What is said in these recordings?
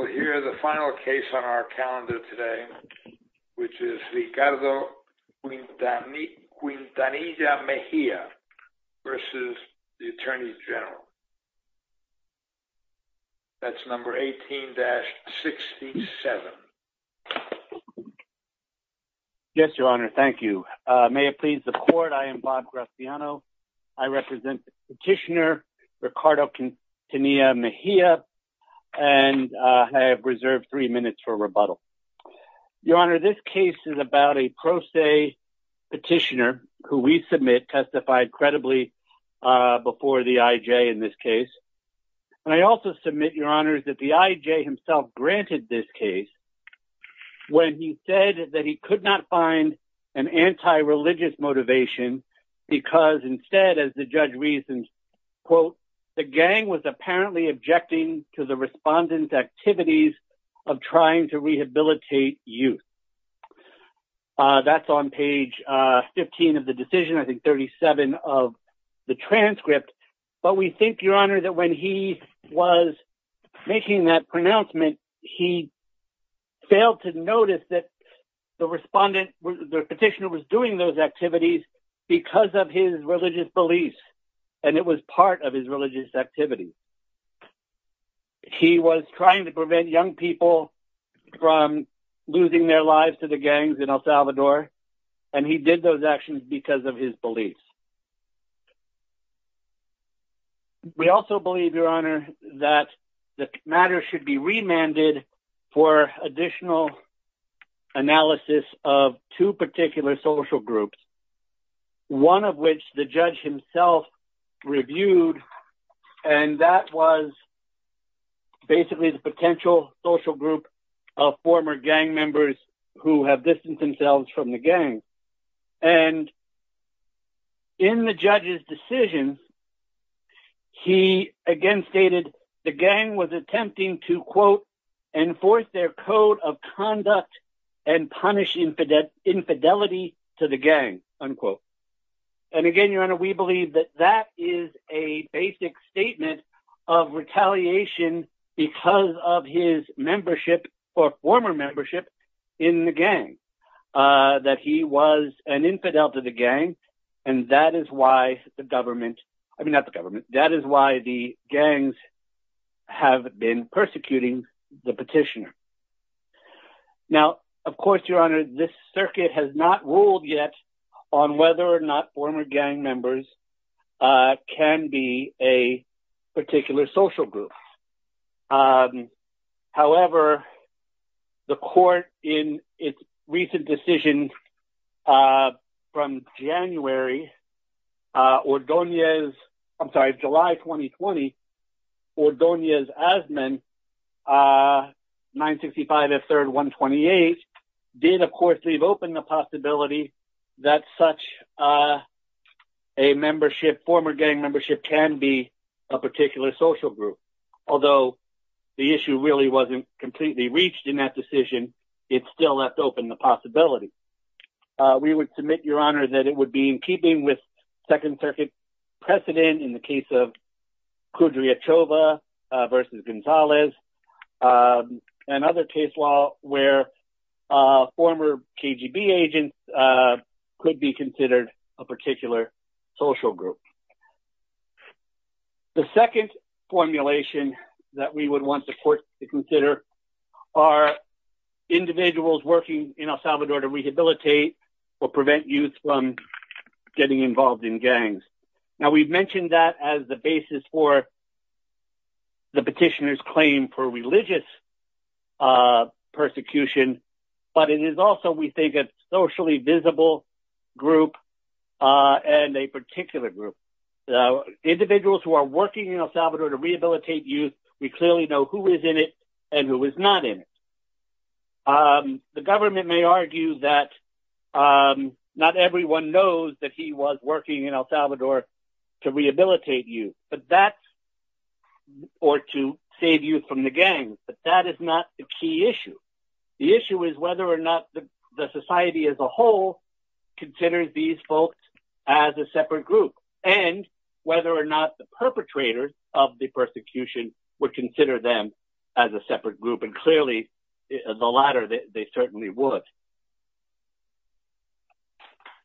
We will hear the final case on our calendar today, which is Ricardo Quintanilla-Mejia v. Attorney General, that's number 18-67. Yes, Your Honor. Thank you. May it please the Court, I am Bob Graziano. I represent Petitioner Ricardo Quintanilla-Mejia, and I have reserved three minutes for rebuttal. Your Honor, this case is about a pro se petitioner who we submit testified credibly before the I.J. in this case. And I also submit, Your Honor, that the I.J. himself granted this case when he said that he could not find an anti-religious motivation because instead, as the judge reasons, quote, the gang was apparently objecting to the respondent's activities of trying to rehabilitate youth. That's on page 15 of the decision, I think 37 of the transcript. But we think, Your Honor, that when he was making that pronouncement, he failed to notice that the respondent, the petitioner was doing those activities because of his religious beliefs, and it was part of his religious activity. He was trying to prevent young people from losing their lives to the gangs in El Salvador, and he did those actions because of his beliefs. We also believe, Your Honor, that the matter should be remanded for additional analysis of two particular social groups, one of which the judge himself reviewed, and that was basically the potential social group of former gang members who have distanced themselves from the gang. And in the judge's decision, he again stated the enforce their code of conduct and punish infidelity to the gang, unquote. And again, Your Honor, we believe that that is a basic statement of retaliation because of his membership or former membership in the gang, that he was an infidel to the gang, and that is why the gangs have been persecuting the petitioner. Now, of course, Your Honor, this circuit has not ruled yet on whether or not former gang members can be a particular social group. However, the court, in its recent decision from January, Ordoñez... I'm sorry, July 2020, Ordoñez-Azmin, 965F3-128, did, of course, leave open the possibility that such a membership, former gang membership, can be a particular social group. Although the issue really wasn't completely reached in that decision, it still left open the possibility. We would submit, Your Honor, that it would be in keeping with Second Circuit precedent in the case of Kudrya Chova versus Gonzalez, and other case law where former KGB agents could be considered a particular social group. The second formulation that we would want the court to consider are individuals working in El Salvador to rehabilitate or prevent youth from getting involved in gangs. Now, we've mentioned that as the basis for the petitioner's claim for religious persecution, but it is also, we think, a socially visible group and a particular group. Individuals who are working in El Salvador to rehabilitate youth, we clearly know who is in it and who is not in it. The government may argue that not everyone knows that he was working in El Salvador to rehabilitate youth or to save youth from the gangs, but that is not the key issue. The issue is whether or not the society as a whole considers these folks as a separate group, and whether or not the perpetrators of the persecution would consider them as a separate group. And clearly, the latter, they certainly would.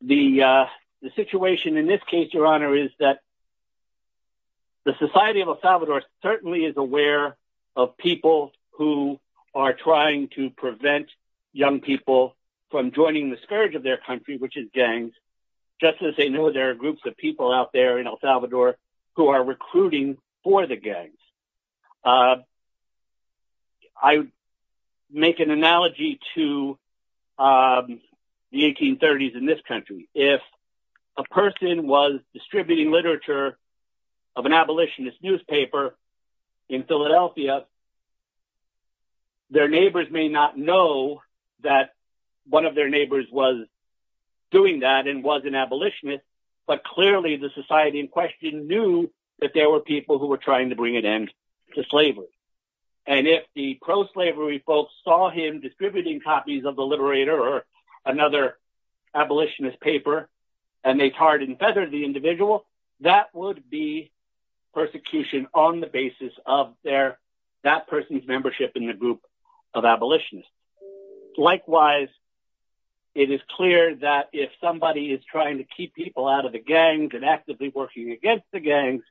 The situation in this case, Your Honor, is that the society of El Salvador certainly is aware of people who are trying to prevent young people from joining the scourge of their country, which is gangs, just as they know there are groups of people out there in El Salvador. Let me make an analogy to the 1830s in this country. If a person was distributing literature of an abolitionist newspaper in Philadelphia, their neighbors may not know that one of their neighbors was doing that and was an abolitionist, but clearly the society in question knew that there were people who were trying to bring an end to slavery. And if the pro-slavery folks saw him distributing copies of the Liberator or another abolitionist paper, and they tarred and feathered the individual, that would be persecution on the basis of that person's membership in the group of abolitionists. Likewise, it is clear that if somebody is trying to keep people out of the gangs and actively working against the gangs,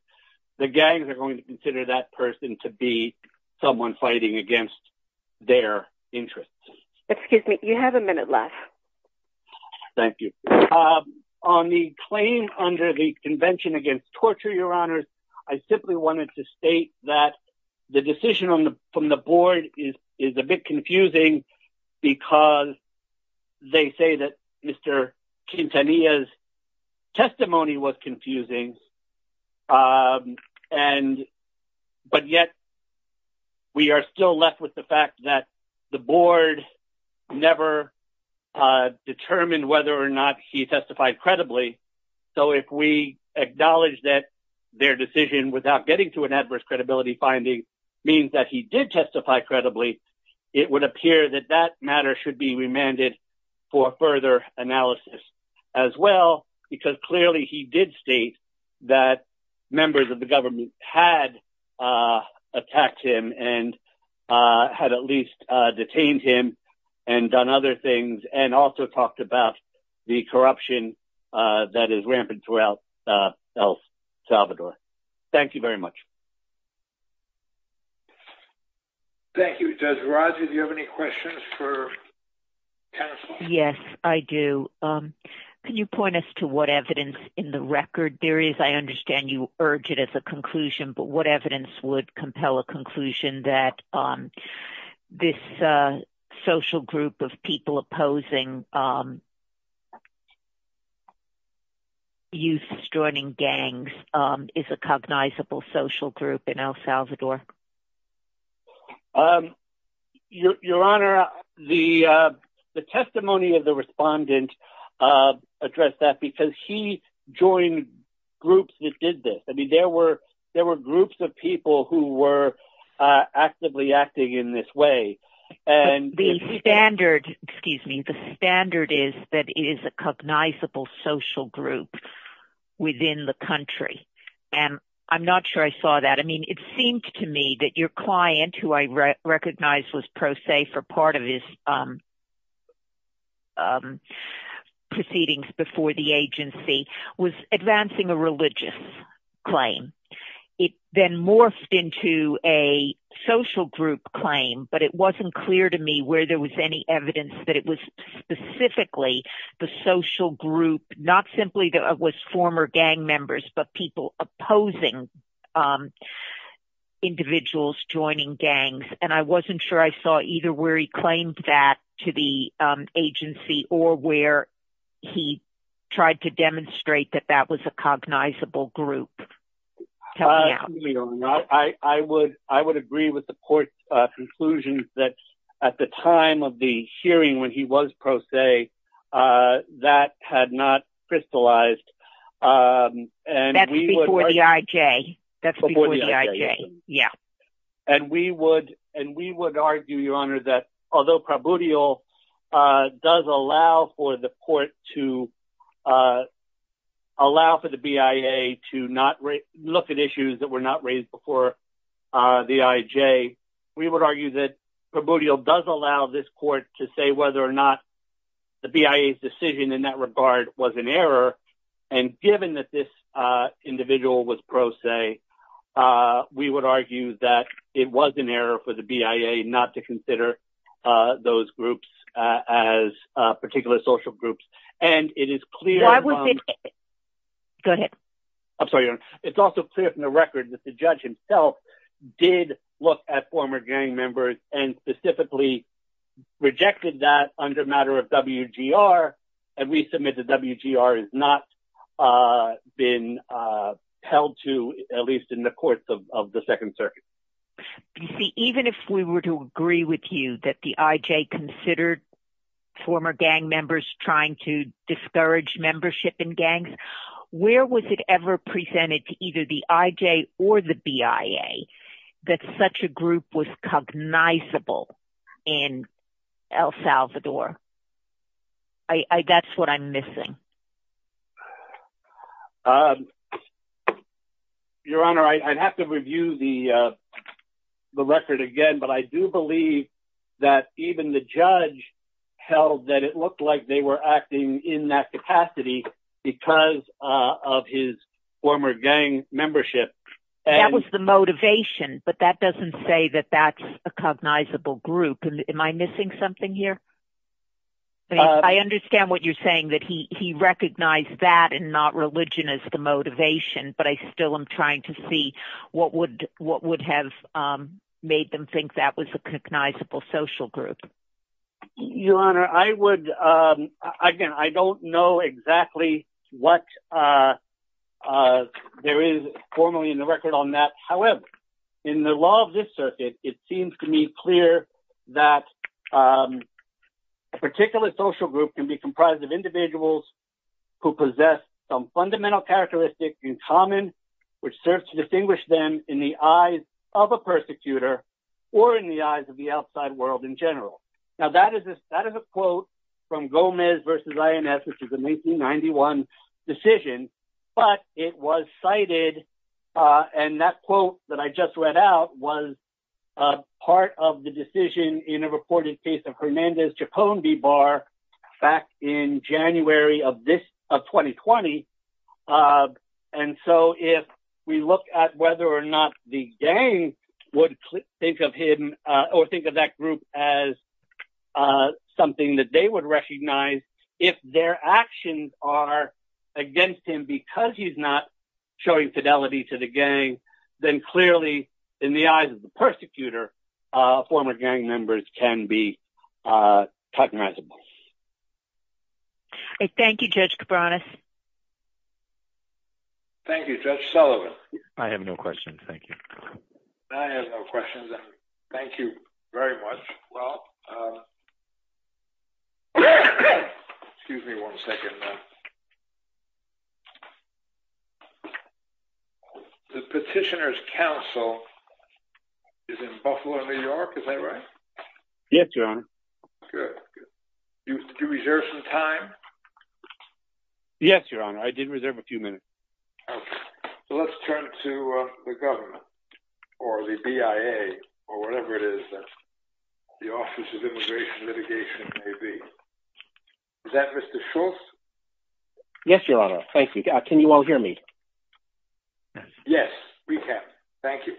the gangs are going to consider that person to be someone fighting against their interests. Excuse me, you have a minute left. Thank you. On the claim under the Convention Against Torture, Your Honors, I simply wanted to state that the decision from the board is a bit confusing because they say that Mr. Quintanilla's is a bit confusing, but yet we are still left with the fact that the board never determined whether or not he testified credibly, so if we acknowledge that their decision without getting to an adverse credibility finding means that he did testify credibly, it would appear that that matter should be remanded for further analysis as well, because clearly he did state that members of the government had attacked him and had at least detained him and done other things, and also talked about the corruption that is rampant throughout El Salvador. Thank you very much. Thank you. Does Roger, do you have any questions for counsel? Yes, I do. Can you point us to what evidence in the record there is? I understand you urge it as a conclusion, but what evidence would compel a conclusion that this social group of people opposing youths joining gangs is a cognizable social group in El Salvador? Your Honor, the testimony of the respondent addressed that because he joined groups that did this. I mean, there were groups of people who were actively acting in this way. The standard is that it is a cognizable social group within the country, and I'm not sure I saw that. I mean, it seemed to me that your client, who I recognize was pro se for part of his proceedings before the agency, was advancing a religious claim. It then morphed into a social group claim, but it wasn't clear to me where there was any evidence that it was specifically the social group, not simply that it was former gang members, but people opposing individuals joining gangs, and I wasn't sure I saw either where he claimed that to the agency or where he tried to demonstrate that that was a cognizable group. Your Honor, I would agree with the court's conclusion that at the time of the hearing when he was pro se, that had not crystallized. That's before the IJ, yeah. And we would argue, Your Honor, that although Prabudio does allow for the BIA to look at issues that were not raised before the IJ, we would argue that Prabudio does allow this whether or not the BIA's decision in that regard was an error, and given that this individual was pro se, we would argue that it was an error for the BIA not to consider those groups as particular social groups, and it is clear... Go ahead. I'm sorry, Your Honor. It's also clear from the record that the judge himself did look at former gang members and specifically rejected that under a matter of WGR, and we submit that WGR has not been held to, at least in the courts of the Second Circuit. You see, even if we were to agree with you that the IJ considered former gang members trying to discourage membership in gangs, where was it ever presented to either the group was cognizable in El Salvador? That's what I'm missing. Your Honor, I'd have to review the record again, but I do believe that even the judge held that it looked like they were acting in that capacity because of his former gang membership. That was the motivation, but that doesn't say that that's a cognizable group. Am I missing something here? I understand what you're saying, that he recognized that and not religion as the motivation, but I still am trying to see what would have made them think that was a cognizable social group. Your Honor, I would, again, I don't know exactly what there is formally in the record on that. However, in the law of this circuit, it seems to me clear that a particular social group can be comprised of individuals who possess some fundamental characteristics in common, which serves to distinguish them in the eyes of a persecutor or in the eyes of a victim. Now, that is a quote from Gomez versus INS, which is a 1991 decision, but it was cited. And that quote that I just read out was part of the decision in a reported case of Hernandez-Chapone-Bibar back in January of 2020. And so if we look at whether or not the gang would think of him or think of that group as something that they would recognize, if their actions are against him because he's not showing fidelity to the gang, then clearly, in the eyes of the persecutor, former gang members can be cognizable. Thank you, Judge Cabranes. Thank you, Judge Sullivan. I have no questions. Thank you. I have no questions. Thank you very much. Well. Excuse me one second. The Petitioners' Council is in Buffalo, New York, is that right? Yes, Your Honor. Good. Did you reserve some time? Yes, Your Honor. I did reserve a few minutes. OK. So let's turn to the government or the BIA or whatever it is that the Office of Immigration Litigation may be. Is that Mr. Schultz? Yes, Your Honor. Thank you. Can you all hear me? Yes, we can. Thank you.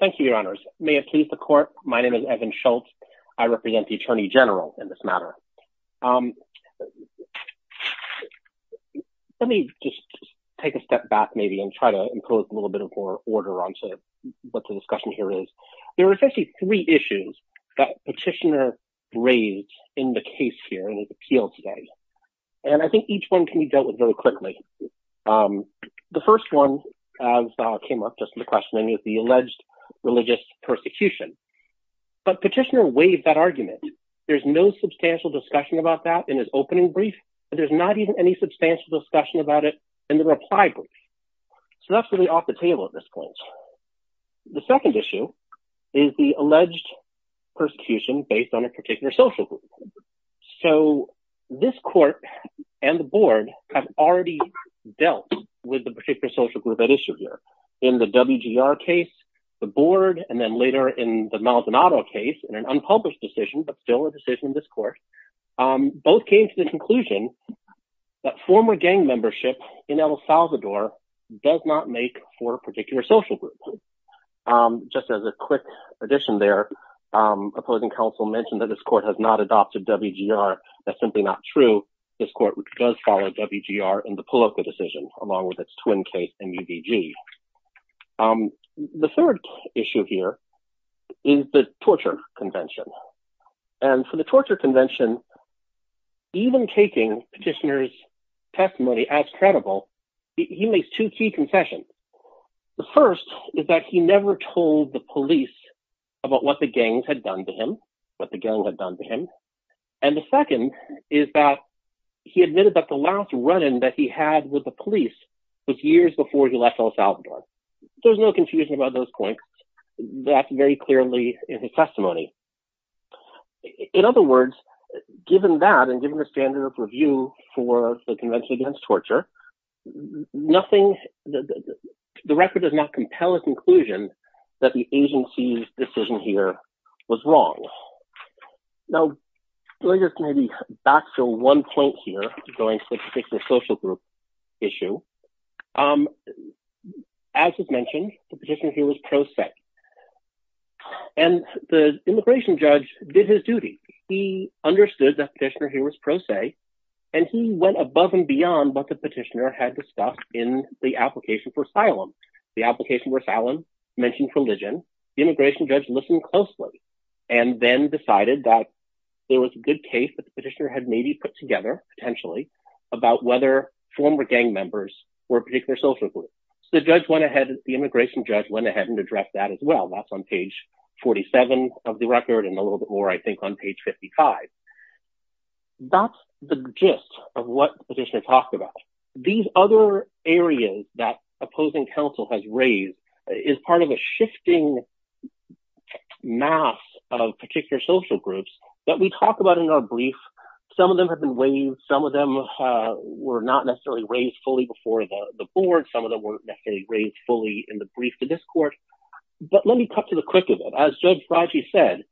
Thank you, Your Honors. May it please the Court. My name is Evan Schultz. I represent the Attorney General in this matter. Let me just take a step back, maybe, and try to impose a little bit of order onto what the discussion here is. There are essentially three issues that Petitioner raised in the case here in his appeal today. And I think each one can be dealt with very quickly. The first one came up just in the questioning is the alleged religious persecution. But Petitioner waived that argument. There's no substantial discussion about that in his opening brief, but there's not even any substantial discussion about it in the reply brief. So that's really off the table at this point. The second issue is the alleged persecution based on a particular social group. So this court and the board have already dealt with the particular social group at issue here in the WGR case, the board, and then later in the Maldonado case in an unpublished decision, but still a decision in this court. Both came to the conclusion that former gang membership in El Salvador does not make for a particular social group. Just as a quick addition there, opposing counsel mentioned that this court has not adopted WGR. That's simply not true. This court does follow WGR in the Poloco decision, along with its twin case, MUBG. The third issue here is the torture convention. And for the torture convention, even taking Petitioner's testimony as credible, he makes two key concessions. The first is that he never told the police about what the gangs had done to him, what the gang had done to him. And the second is that he admitted that the last run in that he had with the police was years before he left El Salvador. There's no confusion about those points. That's very clearly in his testimony. In other words, given that and given the standard of review for the Convention Against Torture, the record does not compel a conclusion that the agency's decision here was wrong. Now, going back to one point here, going to the particular social group issue, as mentioned, the Petitioner here was pro se. And the immigration judge did his duty. He understood that Petitioner here was pro se, and he went above and beyond what the Petitioner had discussed in the application for asylum. The application for asylum mentioned religion. The immigration judge listened closely and then decided that there was a good case that the Petitioner had maybe put together, potentially, about whether former gang members were particular social groups. The judge went ahead, the immigration judge went ahead and addressed that as well. That's on page 47 of the record and a little bit more, I think, on page 55. That's the gist of what Petitioner talked about. These other areas that opposing counsel has raised is part of a shifting mass of particular social groups that we talk about in our brief. Some of them have been waived. Some of them were not necessarily raised fully before the board. Some of them weren't raised fully in the brief to this court. But let me cut to the quick of it. As Judge Fragi said,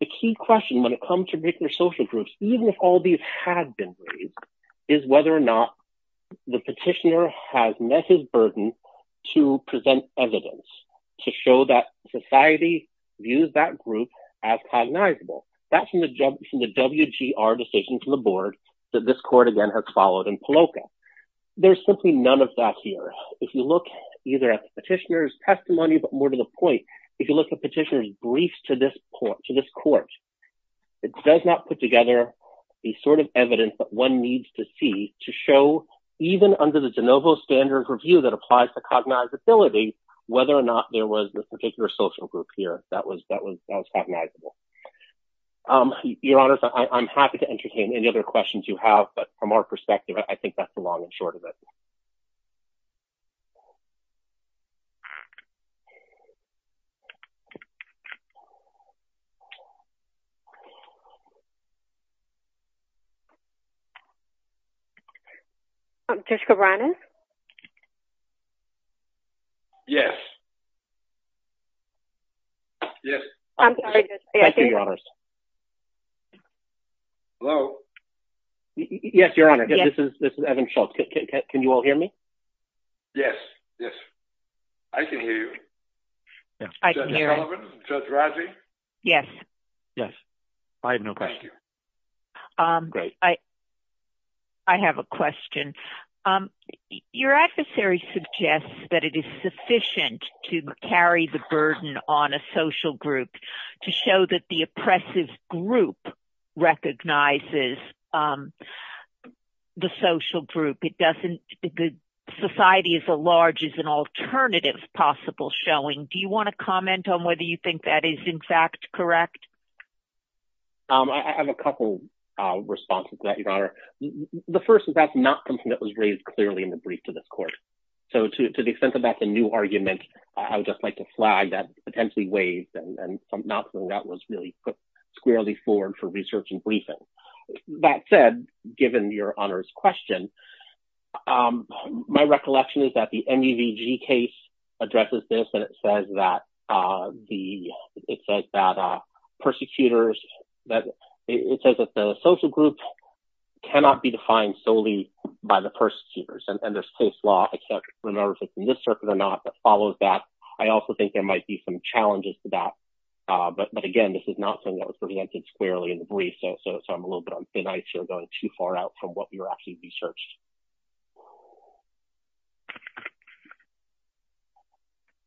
the key question when it comes to particular social groups, even if all these had been raised, is whether or not the Petitioner has met his burden to present evidence to show that society views that group as cognizable. That's from the WGR decision from the board that this court, again, has followed in Paloco. There's simply none of that here. If you look either at the Petitioner's testimony, but more to the point, if you look at Petitioner's briefs to this court, it does not put together the sort of evidence that one needs to see to show, even under the de novo standard review that applies to cognizability, whether or not there was this particular social group here that was cognizable. Your Honor, I'm happy to entertain any other questions you have, but from our perspective, I think that's the long and short of it. I'm Jessica Browning. Yes. Yes. I'm sorry. Thank you, Your Honors. Hello. Yes, Your Honor, this is Evan Schultz. Can you all hear me? Yes, yes. I can hear you. Yes, I can hear you. Judge Sullivan? Judge Razi? Yes. Yes. I have no question. I have a question. Your adversary suggests that it is sufficient to carry the burden on a social group to show that the oppressive group recognizes the social group. The society at large is an alternative possible showing. Do you want to comment on whether you think that is, in fact, correct? I have a couple of responses to that, Your Honor. The first is that's not something that was raised clearly in the brief to this court. So to the extent that that's a new argument, I would just like to flag that potentially waived and something that was really put squarely forward for research and briefing. That said, given Your Honor's question, my recollection is that the NUVG case addresses this and it says that the it says that persecutors that it says that the social group cannot be defined solely by the persecutors and there's close law, except in this circuit or not, that follows that. I also think there might be some challenges to that. But again, this is not something that was presented squarely in the brief. So so so I'm a little bit and I feel going too far out from what we were actually researched.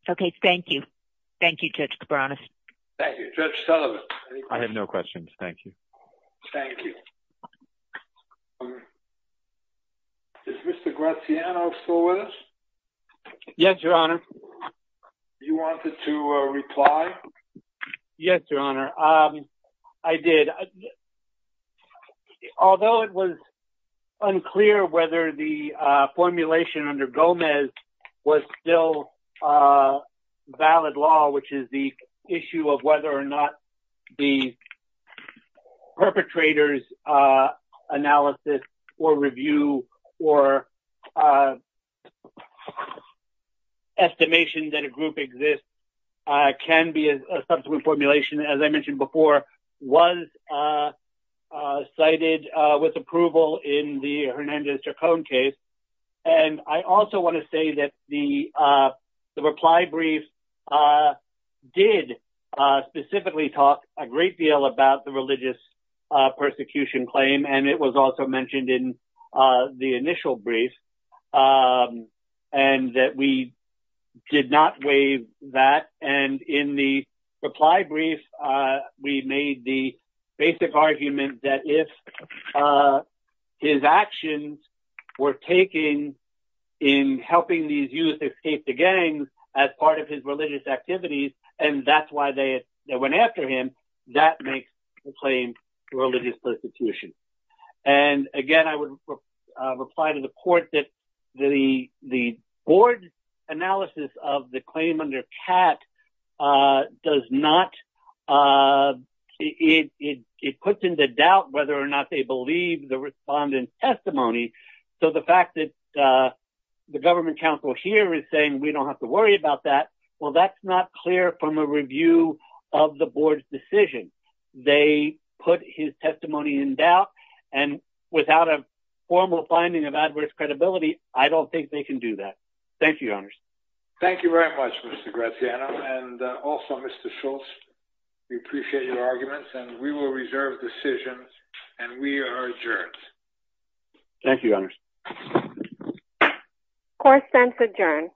OK, thank you. Thank you, Judge Cabranes. Thank you, Judge Sullivan. I have no questions. Thank you. Thank you. Is Mr. Graziano still with us? Yes, Your Honor. You wanted to reply? Yes, Your Honor. I did. Although it was unclear whether the formulation under Gomez was still a valid law, which is the issue of whether or not the perpetrator's analysis or review or estimation that a cited with approval in the Hernandez-Jacone case. And I also want to say that the the reply brief did specifically talk a great deal about the religious persecution claim. And it was also mentioned in the initial brief and that we did not waive that. And in the reply brief, we made the basic argument that if his actions were taken in helping these youth escape the gangs as part of his religious activities and that's why they went after him, that makes the claim religious persecution. And again, I would reply to the court that the the board analysis of the claim under Catt does not it puts into doubt whether or not they believe the respondent's testimony. So the fact that the government counsel here is saying we don't have to worry about that. Well, that's not clear from a review of the board's decision. They put his testimony in doubt and without a formal finding of adverse credibility, I don't think they can do that. Thank you, Your Honor. Thank you very much, Mr. Graziano. And also, Mr. Schultz, we appreciate your arguments and we will reserve decisions and we are adjourned. Thank you, Your Honor. Court sends adjourn.